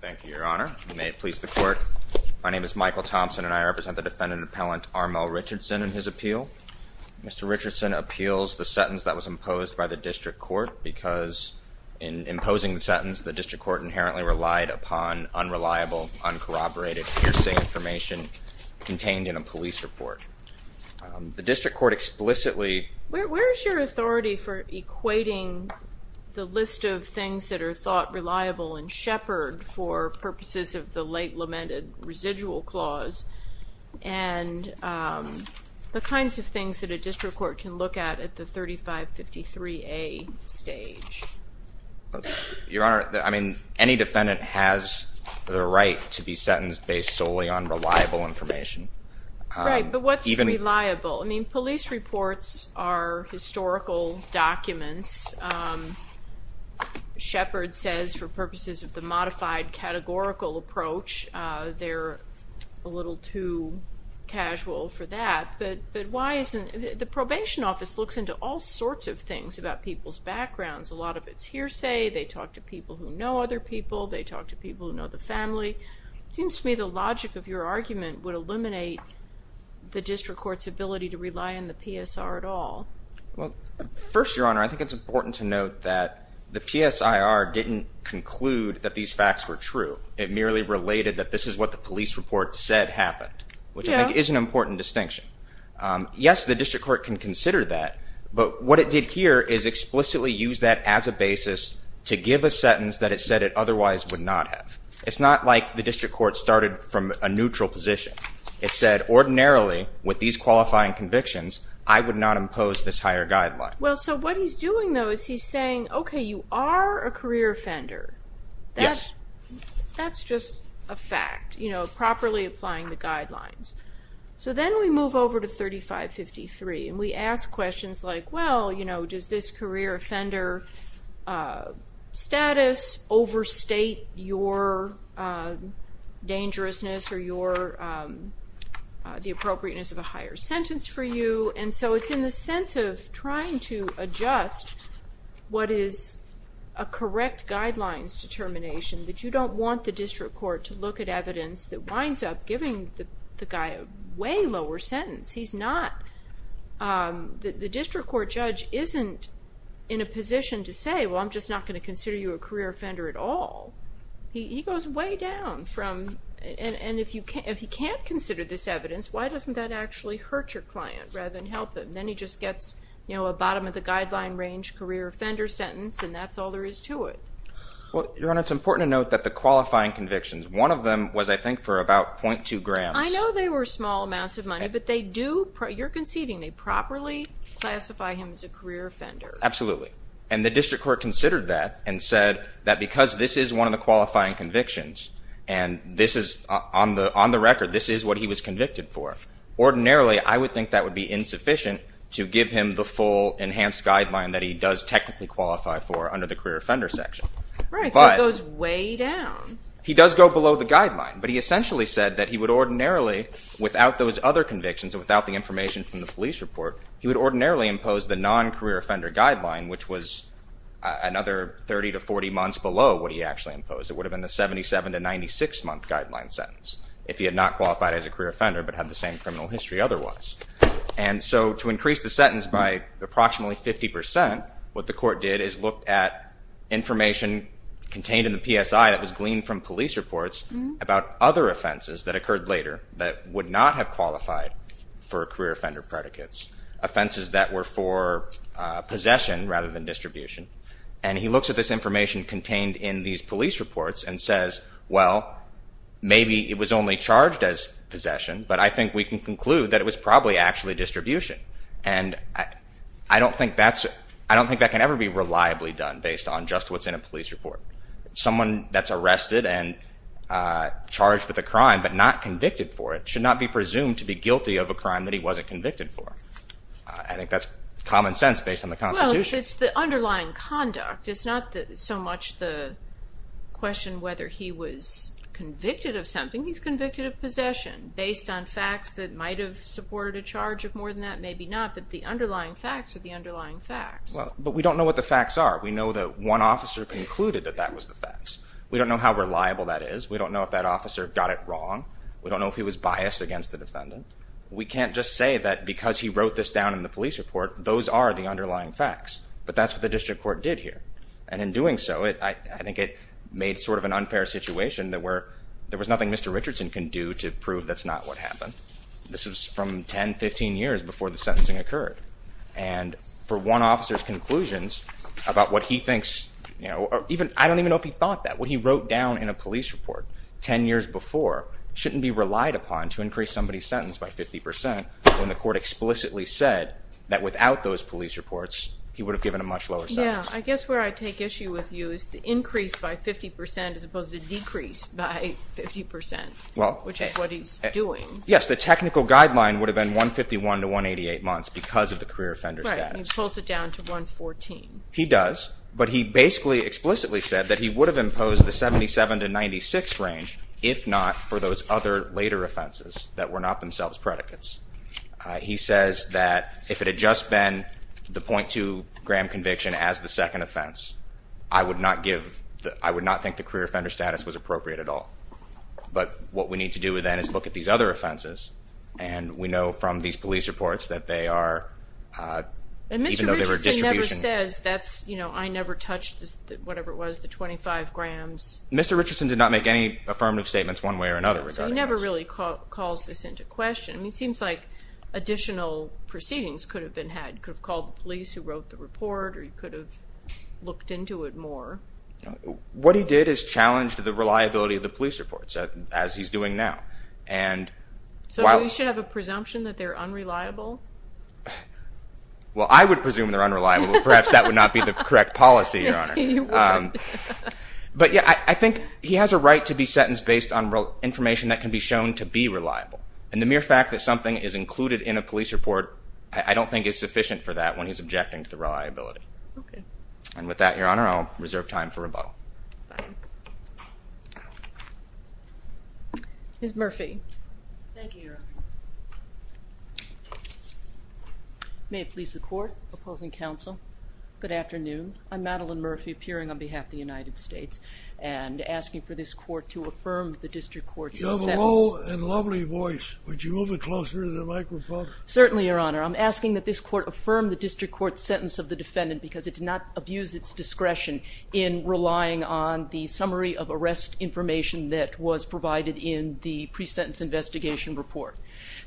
Thank you, your honor. May it please the court. My name is Michael Thompson and I represent the defendant-appellant Armel Richardson in his appeal. Mr. Richardson appeals the sentence that was imposed by the district court because in imposing the sentence, the district court inherently relied upon unreliable, uncorroborated, hearsay information contained in a police report. The district court explicitly... Where is your authority for equating the list of things that are thought reliable and shepherd for purposes of the late lamented residual clause and the kinds of things that a district court can look at at the 3553A stage? Your honor, I mean, any defendant has the right to be sentenced based solely on reliable information. Right, but what's reliable? I mean, police reports are historical documents. Shepherd says for purposes of the modified categorical approach, they're a little too casual for that, but why isn't... The probation office looks into all sorts of things about people's backgrounds. A lot of it's hearsay. They talk to people who know other people. They talk to people who know the family. It seems to me the logic of your argument would eliminate the district court's ability to rely on the PSR at all. Well, first, your honor, I think it's important to note that the PSIR didn't conclude that these facts were true. It merely related that this is what the police report said happened, which I think is an important distinction. Yes, the district court can consider that, but what it did here is explicitly use that as a basis to give a sentence that it said it otherwise would not have. It's not like the district court started from a neutral position. It said, ordinarily, with these qualifying convictions, I would not impose this higher guideline. Well, so what he's doing, though, is he's saying, okay, you are a career offender. Yes. That's just a fact, you know, properly applying the guidelines. So then we move over to 3553, and we ask questions like, well, you know, does this career offender status overstate your dangerousness or the appropriateness of a higher sentence for you? And so it's in the sense of trying to adjust what is a correct guidelines determination, that you don't want the district court to look at evidence that winds up giving the guy a way lower sentence. He's not, the district court judge isn't in a position to say, well, I'm just not going to consider you a career offender at all. He goes way down from, and if he can't consider this evidence, why doesn't that actually hurt your client rather than help him? Then he just gets, you know, a bottom of the guideline range career offender sentence, and that's all there is to it. Well, Your Honor, it's important to note that the qualifying convictions, one of them was, I think, for about .2 grams. I know they were small amounts of money, but they do, you're conceding, they properly classify him as a career offender. Absolutely. And the district court considered that and said that because this is one of the qualifying convictions, and this is, on the record, this is what he was convicted for. Ordinarily, I would think that would be insufficient to give him the full enhanced guideline that he does technically qualify for under the career offender section. Right, so it goes way down. He does go below the guideline, but he essentially said that he would ordinarily, without those other convictions and without the information from the police report, he would ordinarily impose the non-career offender guideline, which was another 30 to 40 months below what he actually imposed. It would have been the 77 to 96-month guideline sentence, if he had not qualified as a career offender but had the same criminal history otherwise. And so to increase the sentence by approximately 50%, what the court did is look at information contained in the PSI that was gleaned from police reports about other offenses that occurred later that would not have qualified for career offender predicates, offenses that were for possession rather than distribution. And he looks at this information contained in these police reports and says, well, maybe it was only charged as possession, but I think we can conclude that it was probably actually distribution. And I don't think that can ever be reliably done based on just what's in a police report. Someone that's arrested and charged with a crime but not convicted for it should not be presumed to be guilty of a crime that he wasn't convicted for. I think that's common sense based on the Constitution. Well, it's the underlying conduct. It's not so much the question whether he was convicted of something. He's convicted of possession based on facts that might have supported a charge of more than that, maybe not, but the underlying facts are the underlying facts. Well, but we don't know what the facts are. We know that one officer concluded that that was the facts. We don't know how reliable that is. We don't know if that officer got it wrong. We don't know if he was biased against the defendant. We can't just say that because he wrote this down in the police report, those are the underlying facts. But that's what the district court did here. And in doing so, I think it made sort of an unfair situation that there was nothing Mr. Richardson can do to prove that's not what happened. This was from 10, 15 years before the sentencing occurred. And for one officer's conclusions about what he thinks, you know, or even I don't even know if he thought that. What he wrote down in a police report 10 years before shouldn't be relied upon to increase somebody's sentence by 50 percent when the court explicitly said that without those police reports, he would have given a much lower sentence. Yeah, I guess where I take issue with you is the increase by 50 percent as opposed to the decrease by 50 percent, which is what he's doing. Yes, the technical guideline would have been 151 to 188 months because of the career offender status. Right, and he pulls it down to 114. He does, but he basically explicitly said that he would have imposed the 77 to 96 range if not for those other later offenses that were not themselves predicates. He says that if it had just been the .2 gram conviction as the second offense, I would not give, I would not think the career offender status was appropriate at all. But what we need to do then is look at these other offenses, and we know from these police reports that they are, even though they were distribution. And Mr. Richardson never says that's, you know, I never touched whatever it was, the 25 grams. Mr. Richardson did not make any affirmative statements one way or another regarding this. So he never really calls this into question. I mean, it seems like additional proceedings could have been had. He could have called the police who wrote the report or he could have looked into it more. What he did is challenged the reliability of the police reports as he's doing now. So he should have a presumption that they're unreliable? Well, I would presume they're unreliable. Perhaps that would not be the correct policy, Your Honor. But, yeah, I think he has a right to be sentenced based on information that can be shown to be reliable. And the mere fact that something is included in a police report, I don't think is sufficient for that when he's objecting to the reliability. Okay. And with that, Your Honor, I'll reserve time for rebuttal. Fine. Ms. Murphy. Thank you, Your Honor. May it please the Court. Opposing counsel. Good afternoon. I'm Madeline Murphy, appearing on behalf of the United States and asking for this Court to affirm the District Court's sentence. You have a low and lovely voice. Would you move it closer to the microphone? Certainly, Your Honor. I'm asking that this Court affirm the District Court's sentence of the defendant because it did not abuse its discretion in relying on the summary of arrest information that was provided in the pre-sentence investigation report.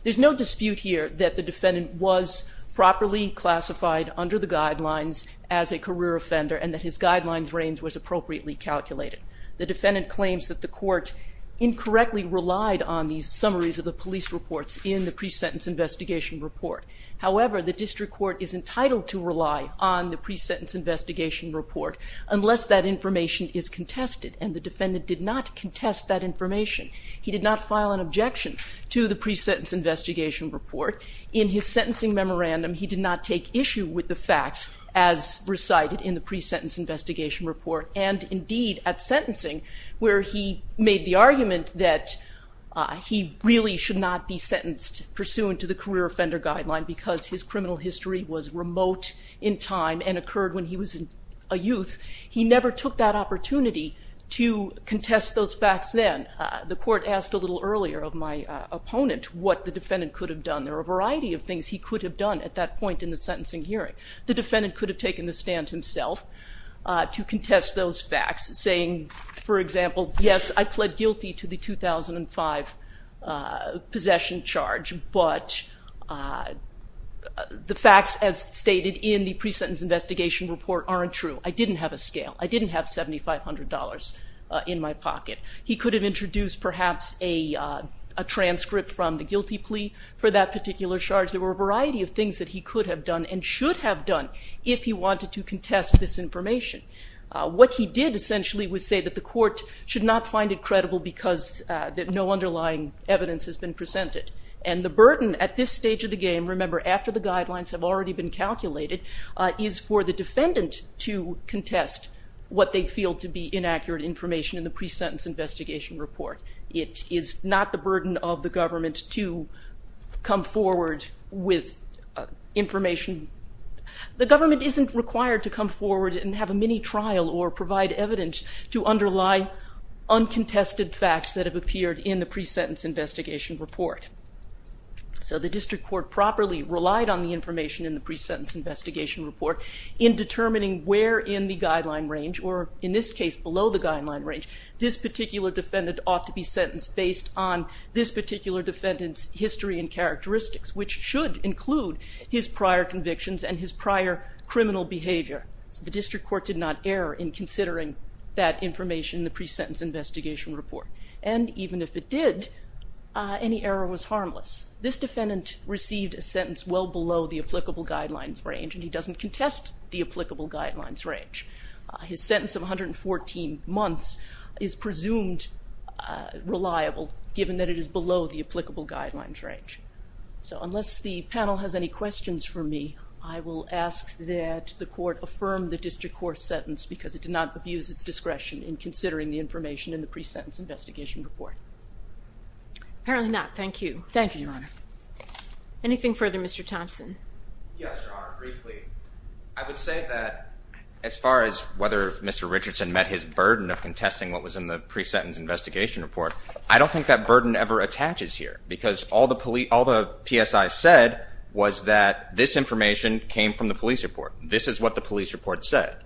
There's no dispute here that the defendant was properly classified under the guidelines as a career offender and that his guidelines range was appropriately calculated. The defendant claims that the court incorrectly relied on the summaries of the police reports in the pre-sentence investigation report. However, the District Court is entitled to rely on the pre-sentence investigation report unless that information is contested, and the defendant did not contest that information. He did not file an objection to the pre-sentence investigation report. In his sentencing memorandum, he did not take issue with the facts as recited in the pre-sentence investigation report and indeed at sentencing where he made the argument that he really should not be sentenced pursuant to the career offender guideline because his criminal history was remote in time and occurred when he was a youth. He never took that opportunity to contest those facts then. The court asked a little earlier of my opponent what the defendant could have done. There are a variety of things he could have done at that point in the sentencing hearing. The defendant could have taken the stand himself to contest those facts, saying, for example, yes, I pled guilty to the 2005 possession charge, but the facts as stated in the pre-sentence investigation report aren't true. I didn't have a scale. I didn't have $7,500 in my pocket. He could have introduced perhaps a transcript from the guilty plea for that particular charge. There were a variety of things that he could have done and should have done if he wanted to contest this information. What he did essentially was say that the court should not find it credible because no underlying evidence has been presented. And the burden at this stage of the game, remember, after the guidelines have already been calculated, is for the defendant to contest what they feel to be inaccurate information in the pre-sentence investigation report. It is not the burden of the government to come forward with information. The government isn't required to come forward and have a mini-trial or provide evidence to underlie uncontested facts that have appeared in the pre-sentence investigation report. So the district court properly relied on the information in the pre-sentence investigation report in determining where in the guideline range, or in this case, below the guideline range, this particular defendant ought to be sentenced based on this particular defendant's history and characteristics, which should include his prior convictions and his prior criminal behavior. The district court did not err in considering that information in the pre-sentence investigation report. And even if it did, any error was harmless. This defendant received a sentence well below the applicable guidelines range, and he doesn't contest the applicable guidelines range. His sentence of 114 months is presumed reliable, given that it is below the applicable guidelines range. So unless the panel has any questions for me, I will ask that the court affirm the district court's sentence because it did not abuse its discretion in considering the information in the pre-sentence investigation report. Apparently not. Thank you. Thank you, Your Honor. Anything further, Mr. Thompson? Yes, Your Honor, briefly. I would say that as far as whether Mr. Richardson met his burden of contesting what was in the pre-sentence investigation report, I don't think that burden ever attaches here because all the PSI said was that this information came from the police report. This is what the police report said.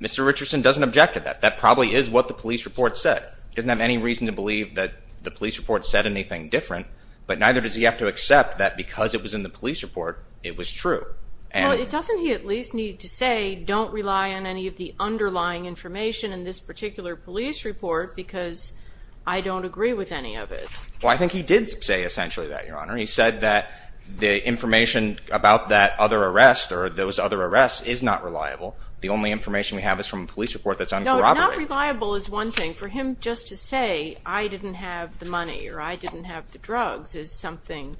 Mr. Richardson doesn't object to that. That probably is what the police report said. He doesn't have any reason to believe that the police report said anything different, but neither does he have to accept that because it was in the police report, it was true. Well, doesn't he at least need to say, don't rely on any of the underlying information in this particular police report because I don't agree with any of it? Well, I think he did say essentially that, Your Honor. He said that the information about that other arrest or those other arrests is not reliable. The only information we have is from a police report that's uncorroborated. No, not reliable is one thing. For him just to say I didn't have the money or I didn't have the drugs is something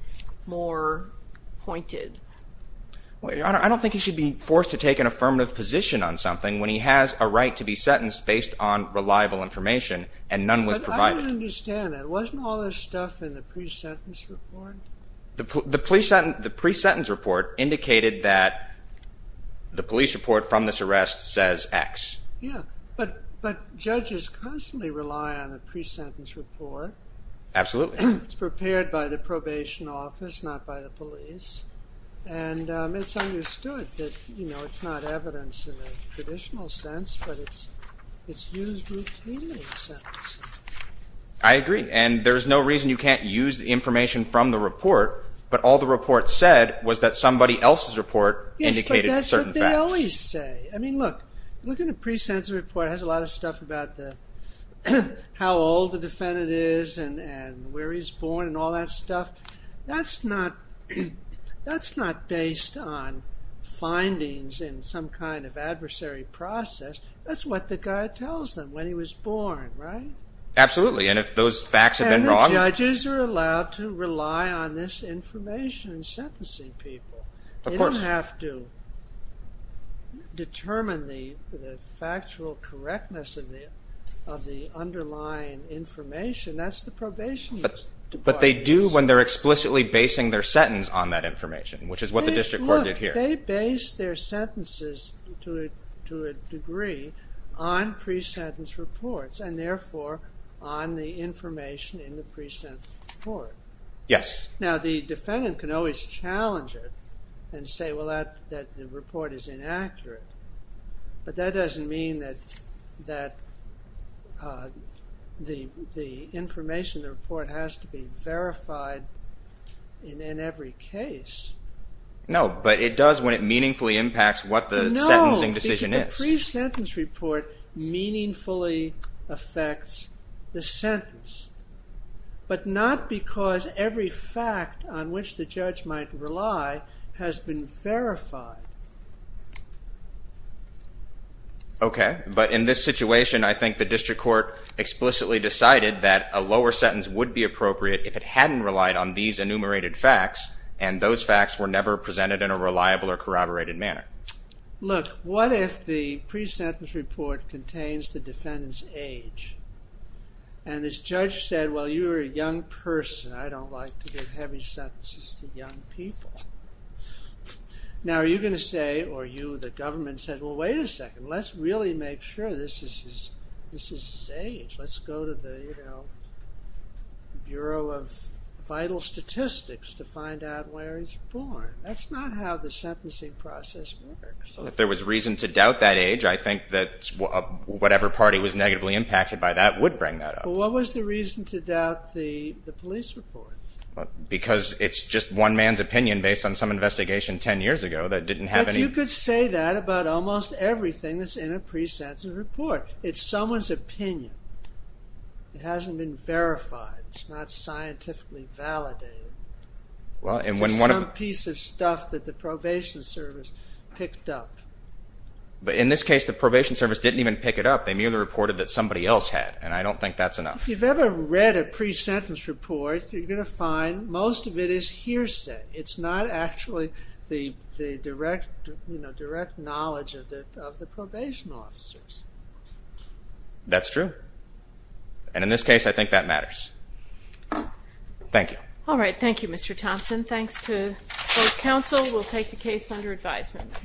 more pointed. Well, Your Honor, I don't think he should be forced to take an affirmative position on something when he has a right to be sentenced based on reliable information and none was provided. But I don't understand that. Wasn't all this stuff in the pre-sentence report? The pre-sentence report indicated that the police report from this arrest says X. Yeah, but judges constantly rely on a pre-sentence report. Absolutely. It's prepared by the probation office, not by the police, and it's understood that it's not evidence in the traditional sense, but it's used routinely in sentencing. I agree, and there's no reason you can't use the information from the report, but all the report said was that somebody else's report indicated certain facts. Yes, but that's what they always say. I mean, look, look at the pre-sentence report. It has a lot of stuff about how old the defendant is and where he's born and all that stuff. That's not based on findings in some kind of adversary process. That's what the guy tells them when he was born, right? Absolutely, and if those facts have been wrong. And the judges are allowed to rely on this information in sentencing people. Of course. They don't have to determine the factual correctness of the underlying information. That's the probation department's. But they do when they're explicitly basing their sentence on that information, which is what the district court did here. Look, they base their sentences to a degree on pre-sentence reports and therefore on the information in the pre-sentence report. Yes. Now, the defendant can always challenge it and say, well, the report is inaccurate. But that doesn't mean that the information in the report has to be verified in every case. No, but it does when it meaningfully impacts what the sentencing decision is. No, because the pre-sentence report meaningfully affects the sentence. But not because every fact on which the judge might rely has been verified. Okay, but in this situation, I think the district court explicitly decided that a lower sentence would be appropriate if it hadn't relied on these enumerated facts and those facts were never presented in a reliable or corroborated manner. Look, what if the pre-sentence report contains the defendant's age and this judge said, well, you're a young person. I don't like to give heavy sentences to young people. Now, are you going to say, or you, the government, said, well, wait a second. Let's really make sure this is his age. Let's go to the Bureau of Vital Statistics to find out where he's born. That's not how the sentencing process works. If there was reason to doubt that age, I think that whatever party was negatively impacted by that would bring that up. Well, what was the reason to doubt the police report? Because it's just one man's opinion based on some investigation 10 years ago that didn't have any... But you could say that about almost everything that's in a pre-sentence report. It's someone's opinion. It hasn't been verified. It's not scientifically validated. It's just some piece of stuff that the probation service picked up. But in this case, the probation service didn't even pick it up. They merely reported that somebody else had, and I don't think that's enough. If you've ever read a pre-sentence report, you're going to find most of it is hearsay. It's not actually the direct knowledge of the probation officers. That's true. And in this case, I think that matters. Thank you. All right. Thank you, Mr. Thompson. Thanks to both counsel. We'll take the case under advisement.